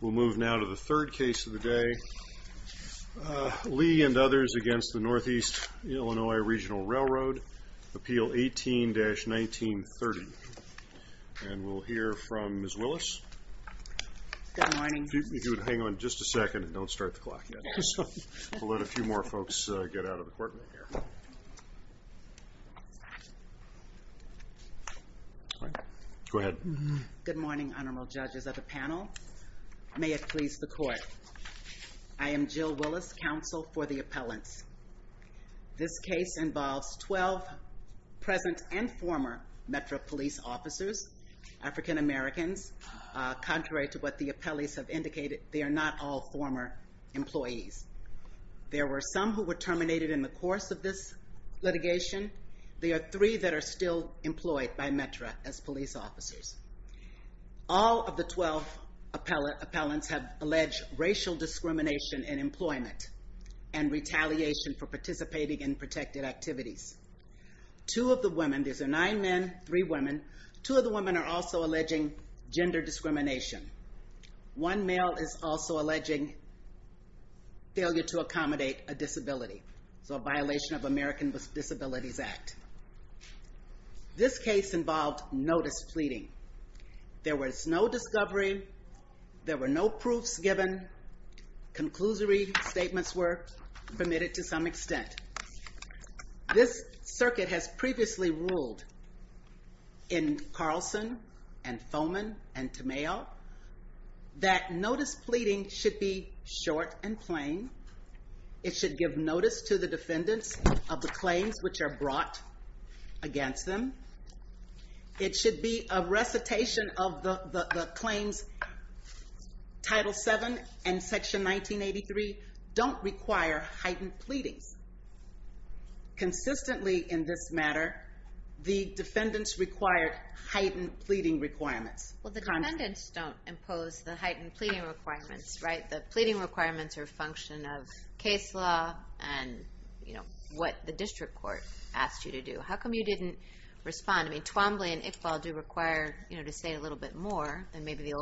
We'll move now to the third case of the day. Lee and others against the Northeast Illinois Regional Railroad, Appeal 18-1930. And we'll hear from Ms. Willis, if you would hang on just a second and don't start the clock yet. We'll let a few more folks get out of the room. Go ahead. Good morning, honorable judges of the panel. May it please the court. I am Jill Willis, counsel for the appellants. This case involves 12 present and former Metro police officers, African Americans. Contrary to what the appellees have indicated, they are not all former employees. There were some who were terminated in the course of this litigation. There are three that are still employed by Metro as police officers. All of the 12 appellants have alleged racial discrimination in employment and retaliation for participating in protected activities. Two of the women, there's nine men, three discrimination. One male is also alleging failure to accommodate a disability. So a violation of American Disabilities Act. This case involved notice pleading. There was no discovery. There were no proofs given. Conclusory statements were permitted to some extent. This circuit has previously ruled in Carlson and Foman and Tamayo that notice pleading should be short and plain. It should give notice to the defendants of the claims which are brought against them. It should be a recitation of the claims. Title 7 and section 1983 don't require heightened pleadings. Consistently in this matter, the defendants required heightened pleading requirements. Well the defendants don't impose the heightened pleading requirements, right? The pleading requirements are a function of case law and what the district court asked you to do. How come you didn't respond? Twombly and Iqbal do require to say a little bit more than maybe the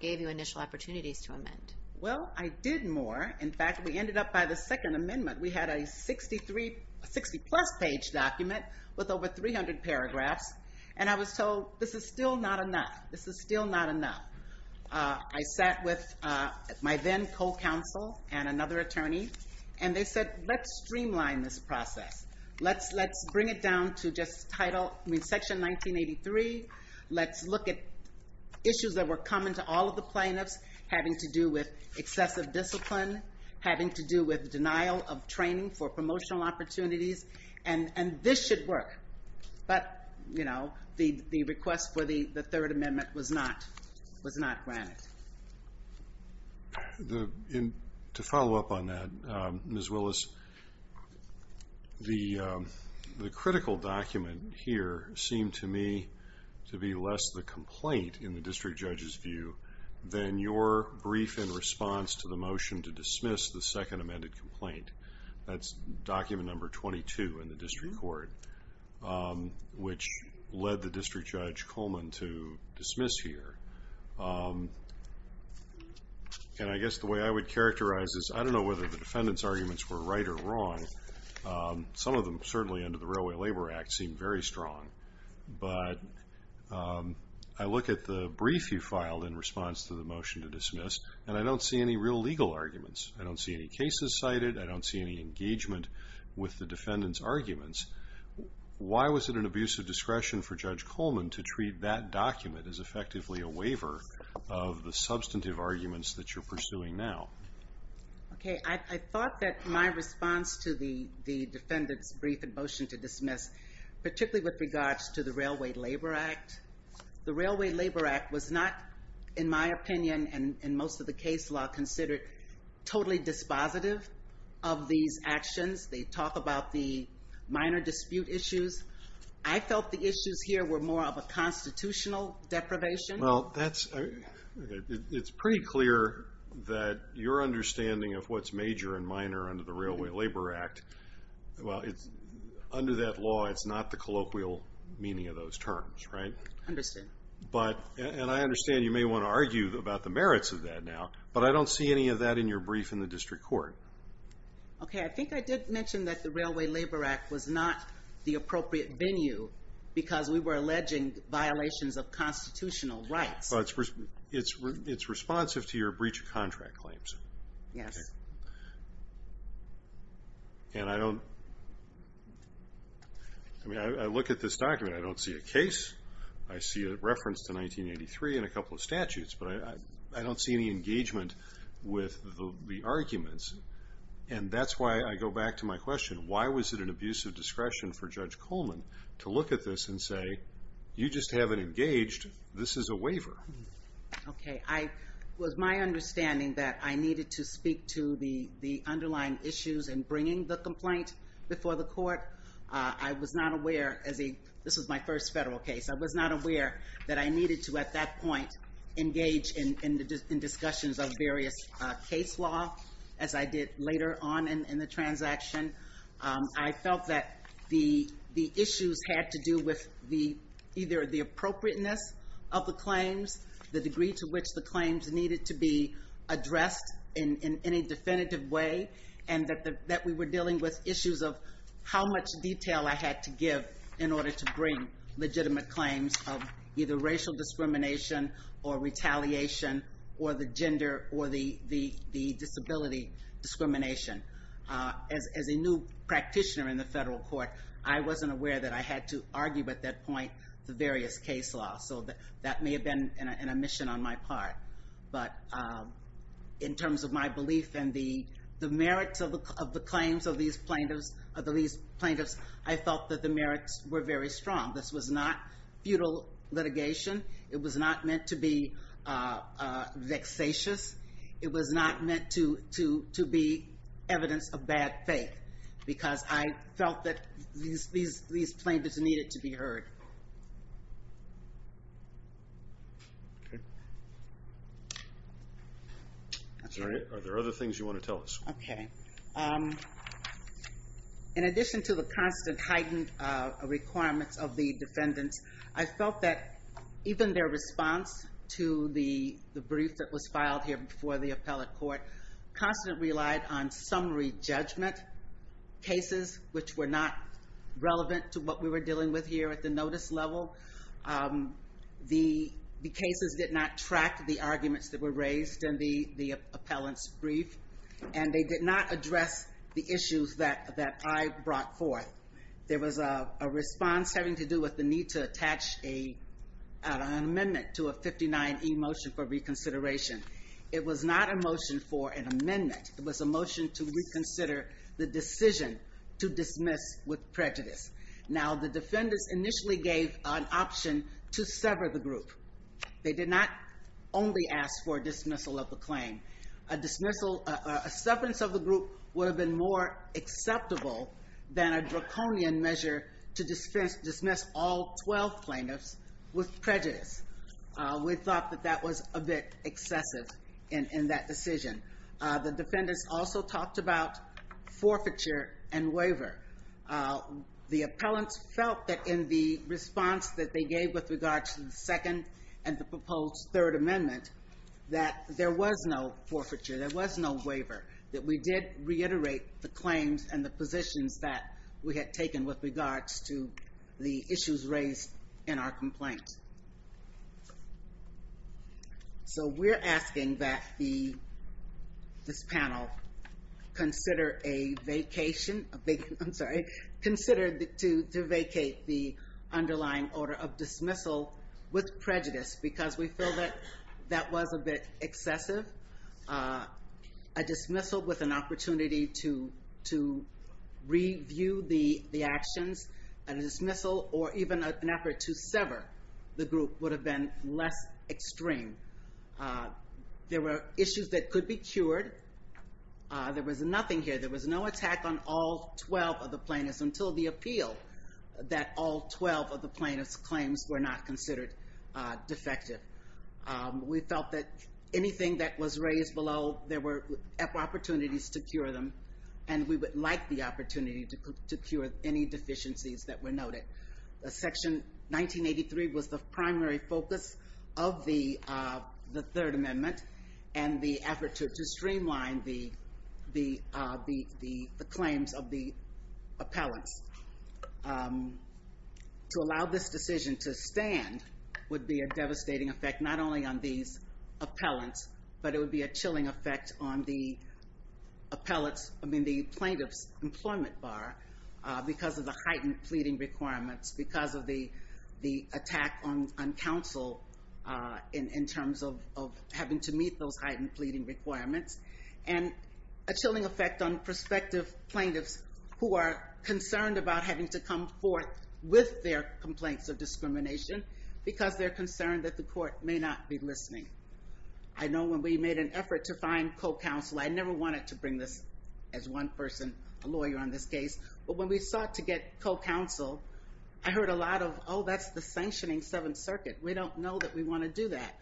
gave you initial opportunities to amend. Well I did more. In fact, we ended up by the second amendment. We had a 63, 60 plus page document with over 300 paragraphs and I was told this is still not enough. This is still not enough. I sat with my then co-counsel and another attorney and they said let's streamline this process. Let's bring it down to just title, I mean section 1983. Let's look at issues that were common to all of the plaintiffs having to do with excessive discipline, having to do with denial of training for promotional opportunities and this should work. But you know the request for the third amendment was not granted. To follow up on that Ms. Willis, the critical document here seemed to me to be less the complaint in the district judge's view than your brief in response to the motion to dismiss the second amended complaint. That's document number 22 in the district court which led the district judge Coleman to dismiss here. And I guess the way I would characterize this, I don't know whether the defendant's arguments were right or wrong. Some of them certainly under the Railway Labor Act seemed very strong. But I look at the brief you filed in response to the motion to dismiss and I don't see any real legal arguments. I don't see any cases cited. I don't see any engagement with the defendant's arguments. Why was it an abuse of discretion for Judge Coleman to treat that document as effectively a waiver of the substantive arguments that you're motion to dismiss? Particularly with regards to the Railway Labor Act. The Railway Labor Act was not, in my opinion, and most of the case law considered, totally dispositive of these actions. They talk about the minor dispute issues. I felt the issues here were more of a constitutional deprivation. Well that's, it's pretty clear that your understanding of what's major and minor under the Railway Labor Act, well, under that law it's not the colloquial meaning of those terms, right? Understood. But, and I understand you may want to argue about the merits of that now, but I don't see any of that in your brief in the district court. Okay, I think I did mention that the Railway Labor Act was not the appropriate venue because we were alleging violations of constitutional rights. Well, it's responsive to your breach of contract claims. Yes. And I don't, I mean, I look at this document, I don't see a case, I see a reference to 1983 and a couple of statutes, but I don't see any engagement with the arguments. And that's why I go back to my question, why was it an abuse of discretion for Judge Coleman to look at this and say, you just haven't engaged, this is a waiver. Okay, I, it was my understanding that I needed to speak to the underlying issues in bringing the complaint before the court. I was not aware, as a, this was my first federal case, I was not aware that I needed to at that point engage in discussions of various case law, as I did later on in the transaction. I felt that the issues had to do with the, either the appropriateness of the claims, the degree to which the claims needed to be addressed in any definitive way, and that we were dealing with issues of how much detail I had to give in order to bring legitimate claims of either racial discrimination or retaliation or the gender or the disability discrimination. As a new practitioner in the federal court, I wasn't aware that I had to argue at that point the various case laws. So that may have been an omission on my part. But in terms of my belief in the merits of the claims of these plaintiffs, I felt that the merits were very strong. This was not futile litigation. It was not meant to be vexatious. It was not meant to be evidence of bad faith, because I felt that these plaintiffs needed to be heard. Okay. Are there other things you want to tell us? Okay. In addition to the constant heightened requirements of the defendants, I felt that even their response to the brief that was filed here before the appellate court constantly relied on summary judgment cases, which were not relevant to what we were dealing with here at the notice level. The cases did not track the arguments that were raised in the appellant's brief. And they did not address the issues that I brought forth. There was a response having to do with the need to attach an amendment to a 59E motion for reconsideration. It was not a motion for an amendment. It was a motion to reconsider the decision to dismiss with prejudice. Now, the defendants initially gave an option to sever the group. They did not only ask for dismissal of the claim. A dismissal, a severance of the group would have been more acceptable than a draconian measure to dismiss all 12 plaintiffs with prejudice. We thought that that was a bit excessive in that decision. The defendants also talked about forfeiture and waiver. The appellants felt that in the response that they gave with regards to the second and the proposed third amendment, that there was no forfeiture, there was no waiver. That we did reiterate the claims and the positions that we had taken with regards to the issues raised in our complaint. So we're asking that this panel consider a vacation, I'm sorry, consider to vacate the underlying order of dismissal with prejudice. Because we feel that that was a bit excessive. A dismissal with an opportunity to review the actions. A dismissal or even an effort to sever the group would have been less extreme. There were issues that could be cured. There was nothing here. There was no attack on all 12 of the plaintiffs until the appeal that all 12 of the plaintiffs' claims were not considered defective. We felt that anything that was raised below, there were opportunities to cure them. And we would like the opportunity to cure any deficiencies that were noted. Section 1983 was the primary focus of the third amendment. And the effort to streamline the claims of the appellants. To allow this decision to stand would be a devastating effect, not only on these appellants, but it would be a chilling effect on the plaintiff's employment bar. Because of the heightened pleading requirements. Because of the attack on counsel in terms of having to meet those heightened pleading requirements. And a chilling effect on prospective plaintiffs who are concerned about having to come forth with their complaints of discrimination. Because they're concerned that the court may not be listening. I know when we made an effort to find co-counsel, I never wanted to bring this as one person, a lawyer on this case. But when we sought to get co-counsel, I heard a lot of, oh, that's the sanctioning Seventh Circuit. We don't know that we want to do that.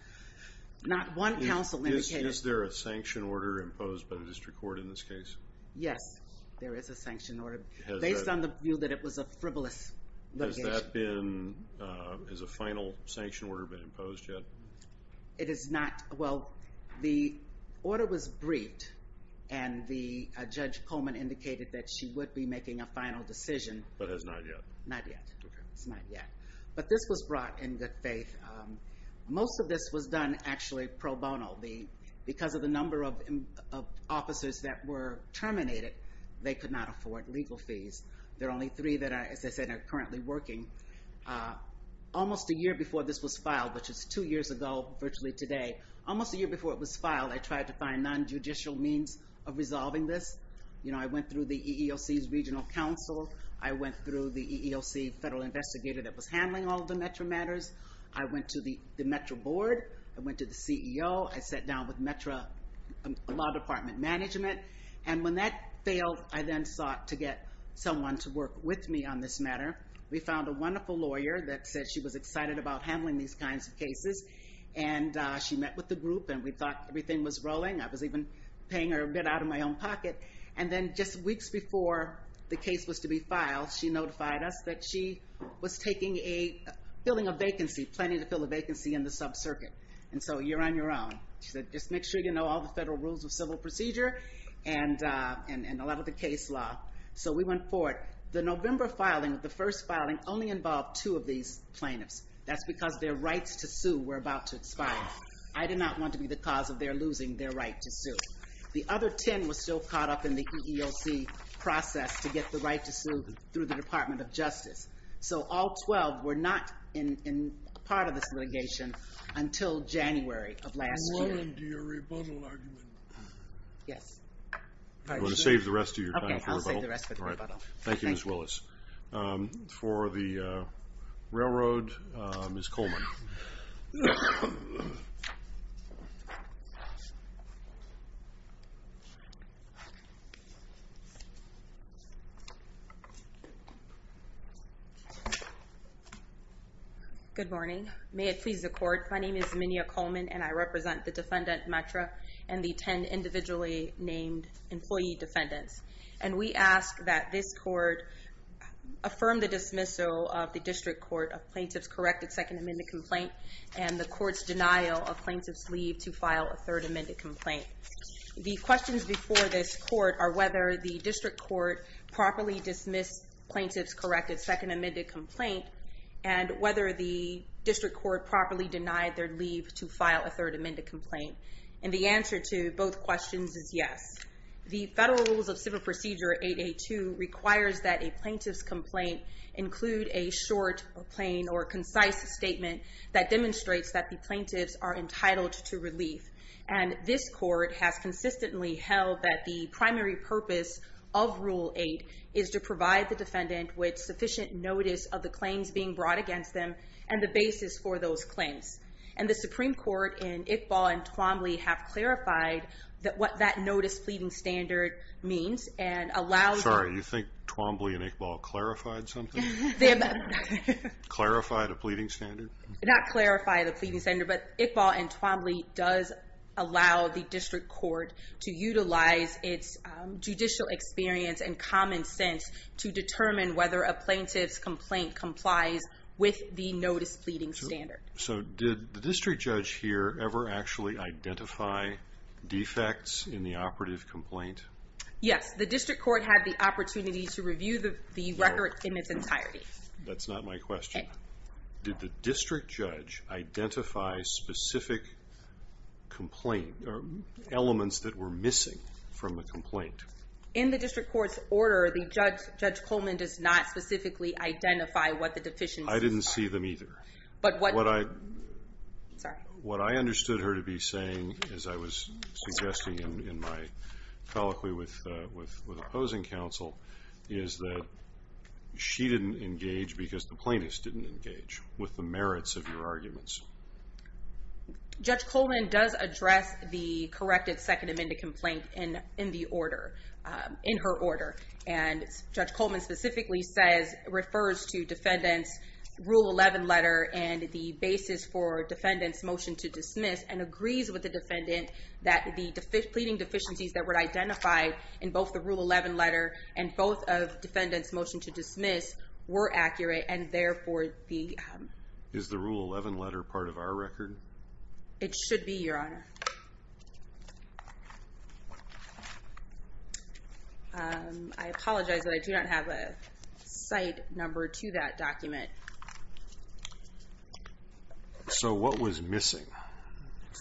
Not one counsel indicated. Is there a sanction order imposed by the district court in this case? Yes, there is a sanction order. Based on the view that it was a frivolous litigation. Has that been, has a final sanction order been imposed yet? It is not, well, the order was briefed. And the Judge Coleman indicated that she would be making a final decision. But has not yet? Not yet. It's not yet. But this was brought in good faith. Most of this was done actually pro bono. Because of the number of officers that were terminated, they could not afford legal fees. There are only three that, as I said, are currently working. Almost a year before this was filed, which is two years ago, virtually today. Almost a year before it was filed, I tried to find non-judicial means of resolving this. You know, I went through the EEOC's regional counsel. I went through the EEOC federal investigator that was handling all of the METRA matters. I went to the METRA board. I went to the CEO. I sat down with METRA law department management. And when that failed, I then sought to get someone to work with me on this matter. We found a wonderful lawyer that said she was excited about handling these kinds of cases. And she met with the group, and we thought everything was rolling. I was even paying her a bit out of my own pocket. And then just weeks before the case was to be filed, she notified us that she was taking a filling a vacancy, planning to fill a vacancy in the sub-circuit. And so you're on your own. She said, just make sure you know all the federal rules of civil procedure and a lot of the case law. So we went forward. The November filing, the first filing, only involved two of these plaintiffs. That's because their rights to sue were about to expire. I did not want to be the cause of their losing their right to sue. The other 10 were still caught up in the EEOC process to get the right to sue through the Department of Justice. So all 12 were not part of this litigation until January of last year. I'm willing to your rebuttal argument. You want to save the rest of your time for rebuttal? Thank you, Ms. Willis. For the railroad, Ms. Coleman. Good morning. May it please the Court, my name is Minya Coleman, and I represent the defendant, Metra, and the 10 individually named employee defendants. And we ask that this Court affirm the dismissal of the District Court of plaintiff's corrected second amended complaint and the Court's denial of plaintiff's leave to file a third amended complaint. The questions before this Court are whether the District Court properly dismissed plaintiff's corrected second amended complaint and whether the District Court properly denied their leave to file a third amended complaint. And the answer to both questions is yes. The Federal Rules of Civil Procedure 8A2 requires that a plaintiff's complaint include a short, plain, or concise statement that demonstrates that the plaintiffs are entitled to relief. And this Court has consistently held that the primary purpose of Rule 8 is to provide the defendant with sufficient notice of the claims being brought against them and the basis for those claims. And the Supreme Court in Iqbal and Twombly have clarified what that notice pleading standard means. Sorry, you think Twombly and Iqbal clarified something? Clarified a pleading standard? Not clarified a pleading standard, but Iqbal and Twombly does allow the District Court to utilize its judicial experience and common sense to determine whether a plaintiff's complaint complies with the notice pleading standard. So did the District Judge here ever actually identify defects in the operative complaint? Yes, the District Court had the opportunity to review the record in its entirety. That's not my question. Did the District Judge identify specific elements that were missing from the complaint? In the District Court's order, Judge Coleman does not specifically identify what the deficiencies are. I didn't see them either. What I understood her to be saying, as I was suggesting in my colloquy with opposing counsel, is that she didn't engage because the plaintiffs didn't engage with the merits of your arguments. Judge Coleman does address the corrected Second Amendment complaint in the order, in her order. And Judge Coleman specifically refers to Defendant's Rule 11 letter and the basis for Defendant's motion to dismiss, and agrees with the Defendant that the pleading deficiencies that were identified in both the Rule 11 letter and both of Defendant's motion to dismiss were accurate, and therefore the... Is the Rule 11 letter part of our record? It should be, Your Honor. I apologize, but I do not have a site number to that document. So what was missing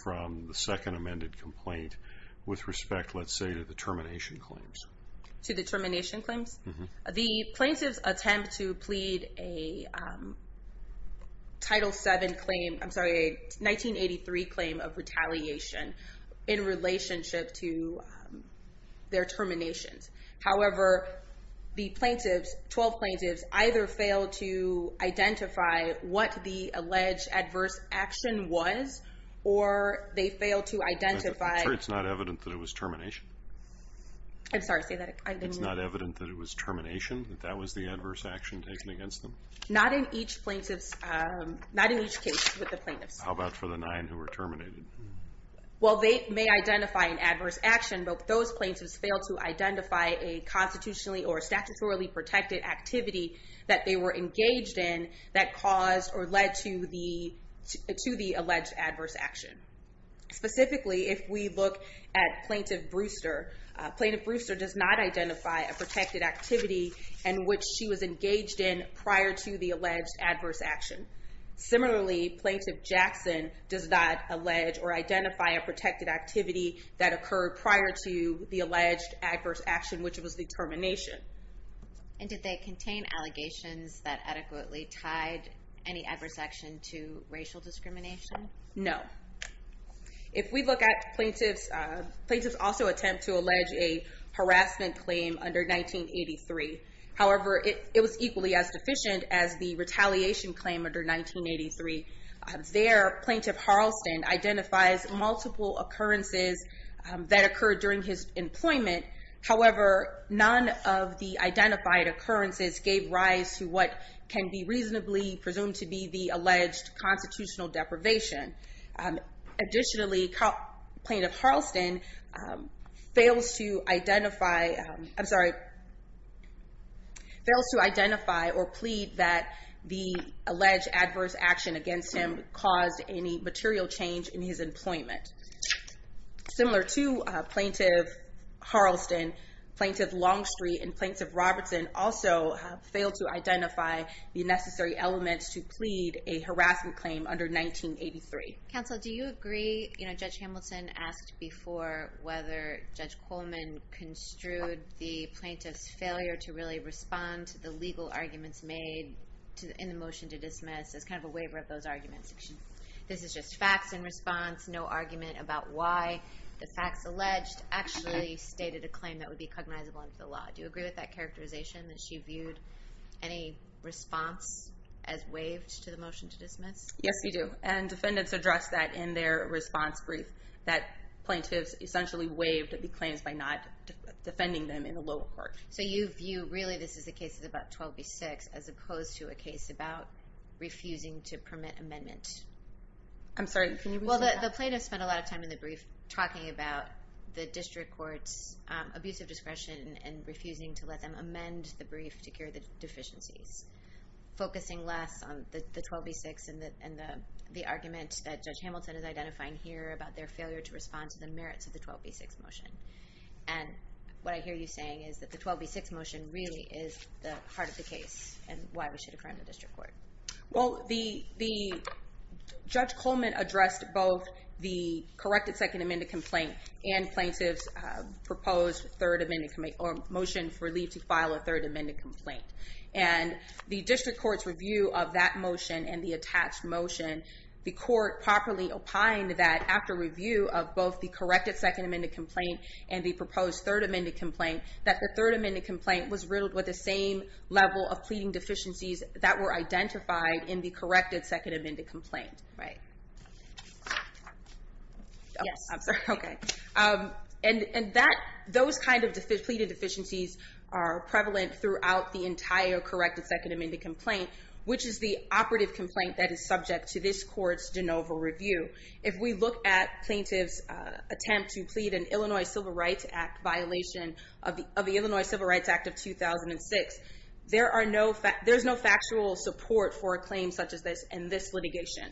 from the Second Amended complaint with respect, let's say, to the termination claims? To the termination claims? The plaintiffs attempt to plead a Title VII claim, I'm sorry, a 1983 claim of retaliation in relationship to their terminations. However, the plaintiffs, 12 plaintiffs, either fail to identify what the alleged adverse action was or they fail to identify... I'm sure it's not evident that it was termination. I'm sorry, say that again. It's not evident that it was termination, that that was the adverse action taken against them? Not in each case with the plaintiffs. How about for the nine who were terminated? Well, they may identify an adverse action, but those plaintiffs fail to identify a constitutionally or statutorily protected activity that they were engaged in that caused or led to the alleged adverse action. Specifically, if we look at Plaintiff Brewster, Plaintiff Brewster does not identify a protected activity in which she was engaged in prior to the alleged adverse action. Similarly, Plaintiff Jackson does not allege or identify a protected activity that occurred prior to the alleged adverse action, which was the termination. And did they contain allegations that adequately tied any adverse action to racial discrimination? No. If we look at plaintiffs, plaintiffs also attempt to allege a harassment claim under 1983. However, it was equally as deficient as the retaliation claim under 1983. There, Plaintiff Harleston identifies multiple occurrences that occurred during his employment. However, none of the identified occurrences gave rise to what can be reasonably presumed to be the alleged constitutional deprivation. Additionally, Plaintiff Harleston fails to identify, I'm sorry, fails to identify or plead that the alleged adverse action against him caused any material change in his employment. Similar to Plaintiff Harleston, Plaintiff Longstreet and Plaintiff Robertson also fail to identify the necessary elements to plead a harassment claim under 1983. Counsel, do you agree, Judge Hamilton asked before whether Judge Coleman construed the plaintiff's failure to really respond to the legal arguments made in the motion to dismiss as kind of a waiver of those arguments. This is just facts in response, no argument about why the facts alleged actually stated a claim that would be cognizable under the law. Do you agree with that characterization, that she viewed any response as waived to the motion to dismiss? Yes, we do. And defendants addressed that in their response brief, that plaintiffs essentially waived the claims by not defending them in a lower court. So you view really this as a case of about 12 v. 6 as opposed to a case about refusing to permit amendment. I'm sorry, can you repeat that? Well, the plaintiff spent a lot of time in the brief talking about the district court's abusive discretion and refusing to let them amend the brief to cure the deficiencies, focusing less on the 12 v. 6 and the argument that Judge Hamilton is identifying here about their failure to respond to the merits of the 12 v. 6 motion. And what I hear you saying is that the 12 v. 6 motion really is the heart of the case and why we should affirm the district court. Well, Judge Coleman addressed both the corrected second amended complaint and plaintiff's motion for leave to file a third amended complaint. And the district court's review of that motion and the attached motion, the court properly opined that after review of both the corrected second amended complaint and the proposed third amended complaint, that the third amended complaint was riddled with the same level of pleading deficiencies that were identified in the corrected second amended complaint. And those kind of pleading deficiencies are prevalent throughout the entire corrected second amended complaint, which is the operative complaint that is subject to this court's de novo review. If we look at plaintiff's attempt to plead an Illinois Civil Rights Act violation of the Illinois Civil Rights Act of 2006, there's no factual support for a claim such as this in this litigation.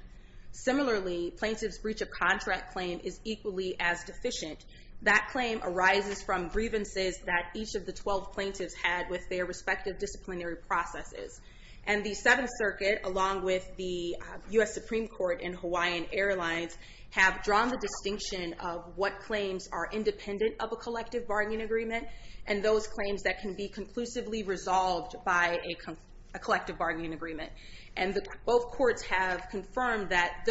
Similarly, plaintiff's breach of contract claim is equally as deficient. That claim arises from grievances that each of the 12 plaintiffs had with their respective disciplinary processes. And the Seventh Circuit, along with the U.S. Supreme Court and Hawaiian Airlines, have drawn the distinction of what claims are independent of a collective bargaining agreement and those claims that can be conclusively resolved by a collective bargaining agreement. And both courts have confirmed that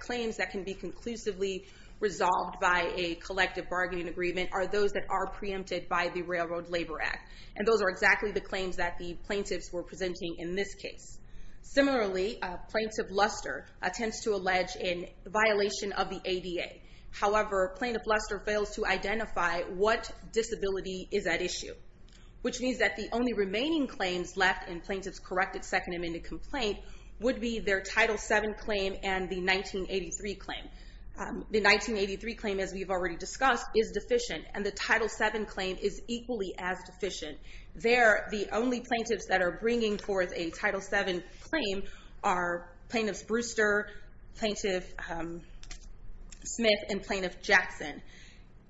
claims that can be conclusively resolved by a collective bargaining agreement are those that are preempted by the Railroad Labor Act. And those are exactly the claims that the plaintiffs were presenting in this case. Similarly, Plaintiff Luster attempts to allege a violation of the ADA. However, Plaintiff Luster fails to identify what disability is at issue, which means that the only remaining claims left in Plaintiff's corrected Second Amendment complaint would be their Title VII claim and the 1983 claim. The 1983 claim, as we've already discussed, is deficient. And the Title VII claim is equally as deficient. There, the only plaintiffs that are bringing forth a Title VII claim are Plaintiffs Brewster, Plaintiff Smith, and Plaintiff Jackson.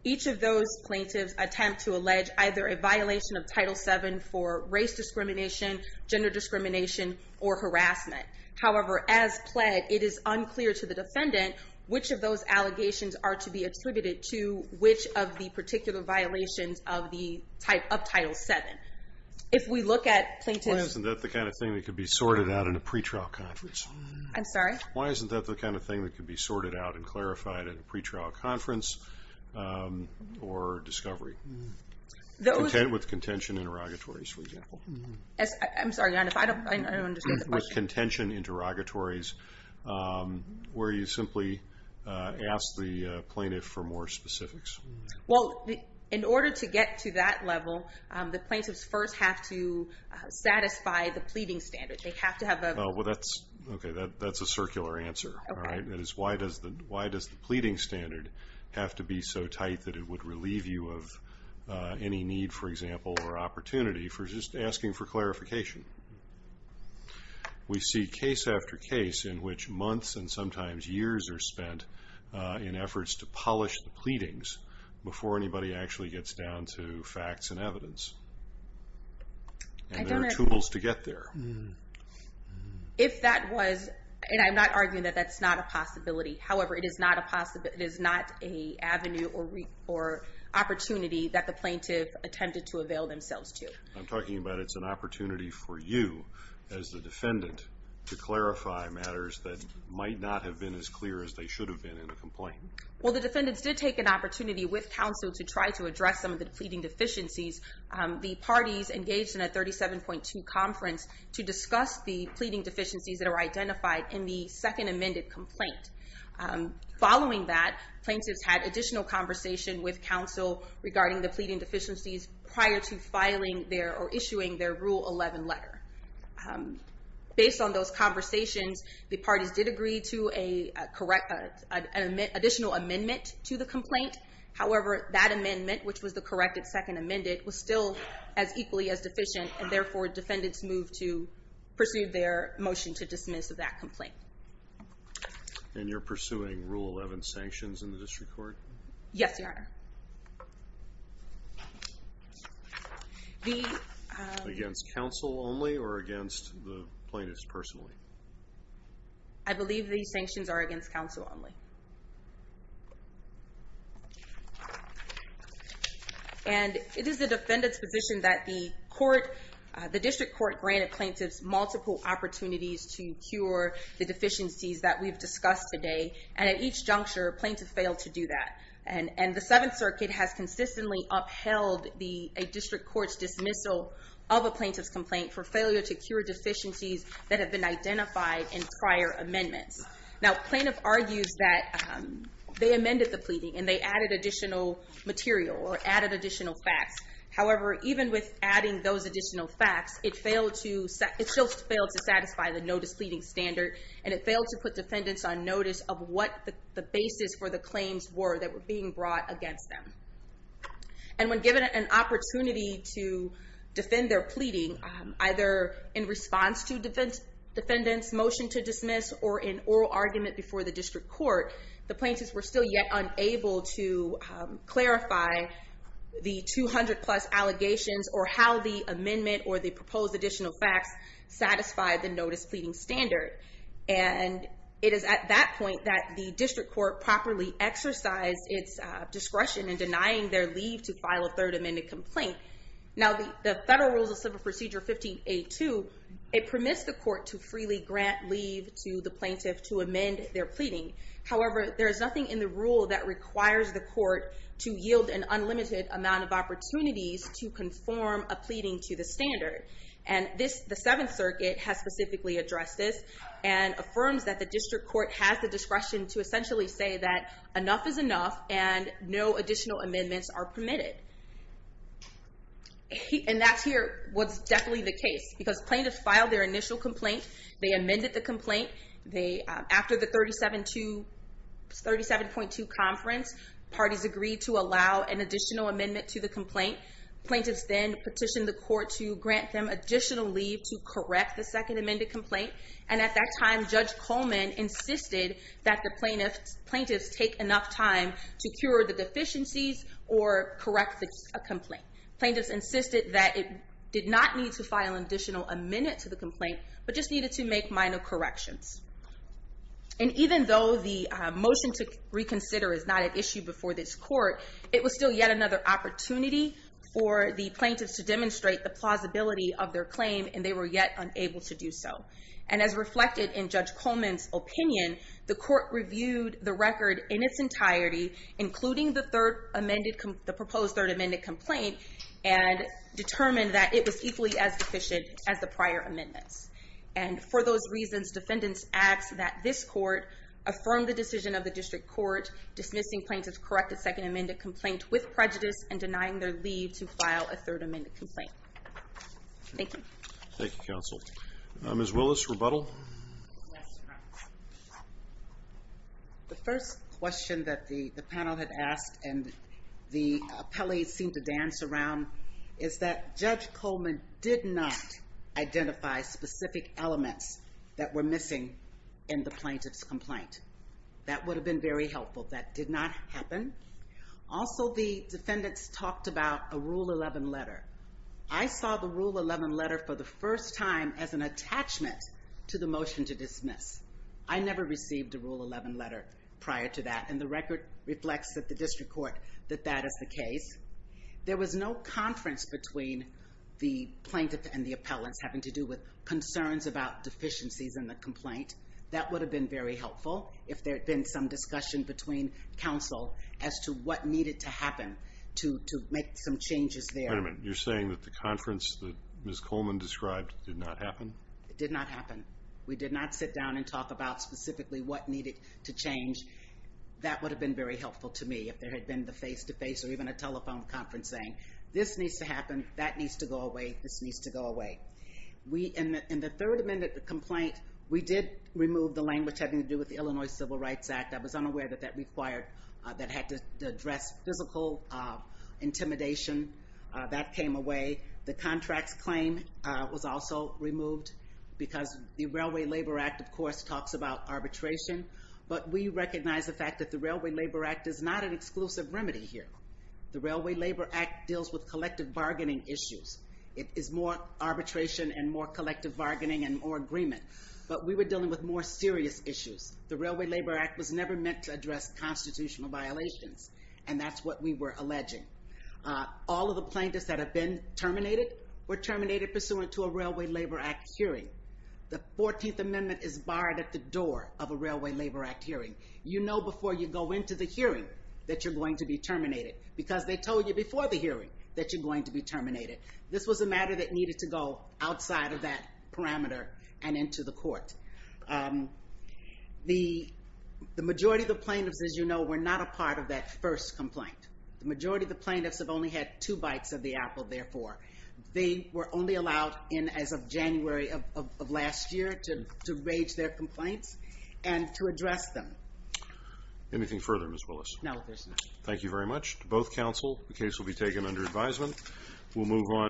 Each of those plaintiffs attempt to allege either a violation of Title VII for race discrimination, gender discrimination, or harassment. However, as pled, it is unclear to the defendant which of those allegations are to be attributed to which of the particular violations of Title VII. If we look at plaintiffs... Why isn't that the kind of thing that could be sorted out in a pretrial conference? I'm sorry? Why isn't that the kind of thing that could be sorted out and clarified in a pretrial conference or discovery? With contention interrogatories, for example. I'm sorry, I don't understand the question. With contention interrogatories, where you simply ask the plaintiff for more specifics. Well, in order to get to that level, the plaintiffs first have to satisfy the pleading standard. They have to have a... Well, that's a circular answer. That is, why does the pleading standard have to be so tight that it would relieve you of any need, for example, or opportunity for just asking for clarification? We see case after case in which months and sometimes years are spent in efforts to polish the pleadings before anybody actually gets down to facts and evidence. And there are tools to get there. If that was, and I'm not arguing that that's not a possibility. However, it is not a avenue or opportunity that the plaintiff attempted to avail themselves to. I'm talking about it's an opportunity for you, as the defendant, to clarify matters that might not have been as clear as they should have been in a complaint. Well, the defendants did take an opportunity with counsel to try to address some of the pleading deficiencies. The parties engaged in a 37.2 conference to discuss the pleading deficiencies that are identified in the second amended complaint. Following that, plaintiffs had additional conversation with counsel regarding the pleading deficiencies prior to filing their or issuing their Rule 11 letter. Based on those conversations, the parties did agree to an additional amendment to the complaint. However, that amendment, which was the corrected second amended, was still as equally as deficient. And therefore, defendants moved to pursue their motion to dismiss that complaint. And you're pursuing Rule 11 sanctions in the district court? Yes, Your Honor. Against counsel only or against the plaintiffs personally? I believe these sanctions are against counsel only. And it is the defendants position that the court, the district court, granted plaintiffs multiple opportunities to cure the deficiencies that we've discussed today. And at each juncture, plaintiffs failed to do that. And the Seventh Circuit has consistently upheld a district court's dismissal of a plaintiff's complaint for failure to cure deficiencies that have been identified in prior amendments. Now plaintiff argues that they amended the pleading and they added additional material or added additional facts. However, even with adding those additional facts, it failed to satisfy the notice pleading standard. And it failed to put defendants on notice of what the basis for the claims were that were being brought against them. And when given an opportunity to defend their pleading, either in response to defendants motion to dismiss or in oral argument before the district court, the plaintiffs were still yet unable to clarify the 200 plus allegations or how the amendment or the proposed additional facts satisfied the notice pleading standard. And it is at that point that the district court properly exercised its discretion in denying their leave to file a third amended complaint. Now the Federal Rules of Civil Procedure 15A2, it permits the court to freely grant leave to the plaintiff to amend their pleading. However, there is nothing in the rule that requires the court to yield an unlimited amount of opportunities to conform a pleading to the standard. And the Seventh Circuit has specifically addressed this and affirms that the district court has the discretion to essentially say that enough is enough and no additional amendments are permitted. And that here was definitely the case because plaintiffs filed their initial complaint, they amended the complaint, after the 37.2 conference, parties agreed to allow an additional amendment to the complaint. Plaintiffs then petitioned the court to grant them additional leave to correct the second amended complaint. And at that time, Judge Coleman insisted that the plaintiffs take enough time Plaintiffs insisted that it did not need to file an additional amendment to the complaint, but just needed to make minor corrections. And even though the motion to reconsider is not at issue before this court, it was still yet another opportunity for the plaintiffs to demonstrate the plausibility of their claim and they were yet unable to do so. And as reflected in Judge Coleman's opinion, the court reviewed the record in its entirety, including the proposed third amended complaint, and determined that it was equally as deficient as the prior amendments. And for those reasons, defendants ask that this court affirm the decision of the district court dismissing plaintiffs' corrected second amended complaint with prejudice and denying their leave to file a third amended complaint. Thank you. Thank you, counsel. Ms. Willis, rebuttal? The first question that the panel had asked and the appellees seemed to dance around is that Judge Coleman did not identify specific elements that were missing in the plaintiff's complaint. That would have been very helpful. That did not happen. Also, the defendants talked about a Rule 11 letter. I saw the Rule 11 letter for the first time as an attachment to the motion to dismiss. I never received a Rule 11 letter prior to that, and the record reflects that the district court that that is the case. There was no conference between the plaintiff and the appellants having to do with concerns about deficiencies in the complaint. That would have been very helpful if there had been some discussion between counsel as to what needed to happen to make some changes there. You're saying that the conference that Ms. Coleman described did not happen? It did not happen. We did not sit down and talk about specifically what needed to change. That would have been very helpful to me if there had been the face-to-face or even a telephone conference saying, this needs to happen, that needs to go away, this needs to go away. In the third amendment complaint, we did remove the language having to do with the Illinois Civil Rights Act. I was unaware that that required, that had to address physical intimidation. That came away. The contracts claim was also removed because the Railway Labor Act, of course, talks about arbitration, but we recognize the fact that the Railway Labor Act is not an exclusive remedy here. The Railway Labor Act deals with collective bargaining issues. It is more arbitration and more collective bargaining and more agreement, but we were dealing with more serious issues. The Railway Labor Act was never meant to address constitutional violations, and that's what we were alleging. All of the plaintiffs that have been terminated were terminated pursuant to a Railway Labor Act hearing. The 14th amendment is barred at the door of a Railway Labor Act hearing. You know before you go into the hearing that you're going to be terminated because they told you before the hearing that you're going to be terminated. This was a matter that needed to go outside of that parameter and into the court. The majority of the plaintiffs, as you know, were not a part of that first complaint. The majority of the plaintiffs have only had two of the Apple, therefore. They were only allowed in as of January of last year to raise their complaints and to address them. Anything further, Ms. Willis? No, there's nothing. Thank you very much to both counsel. The case will be taken under advisement.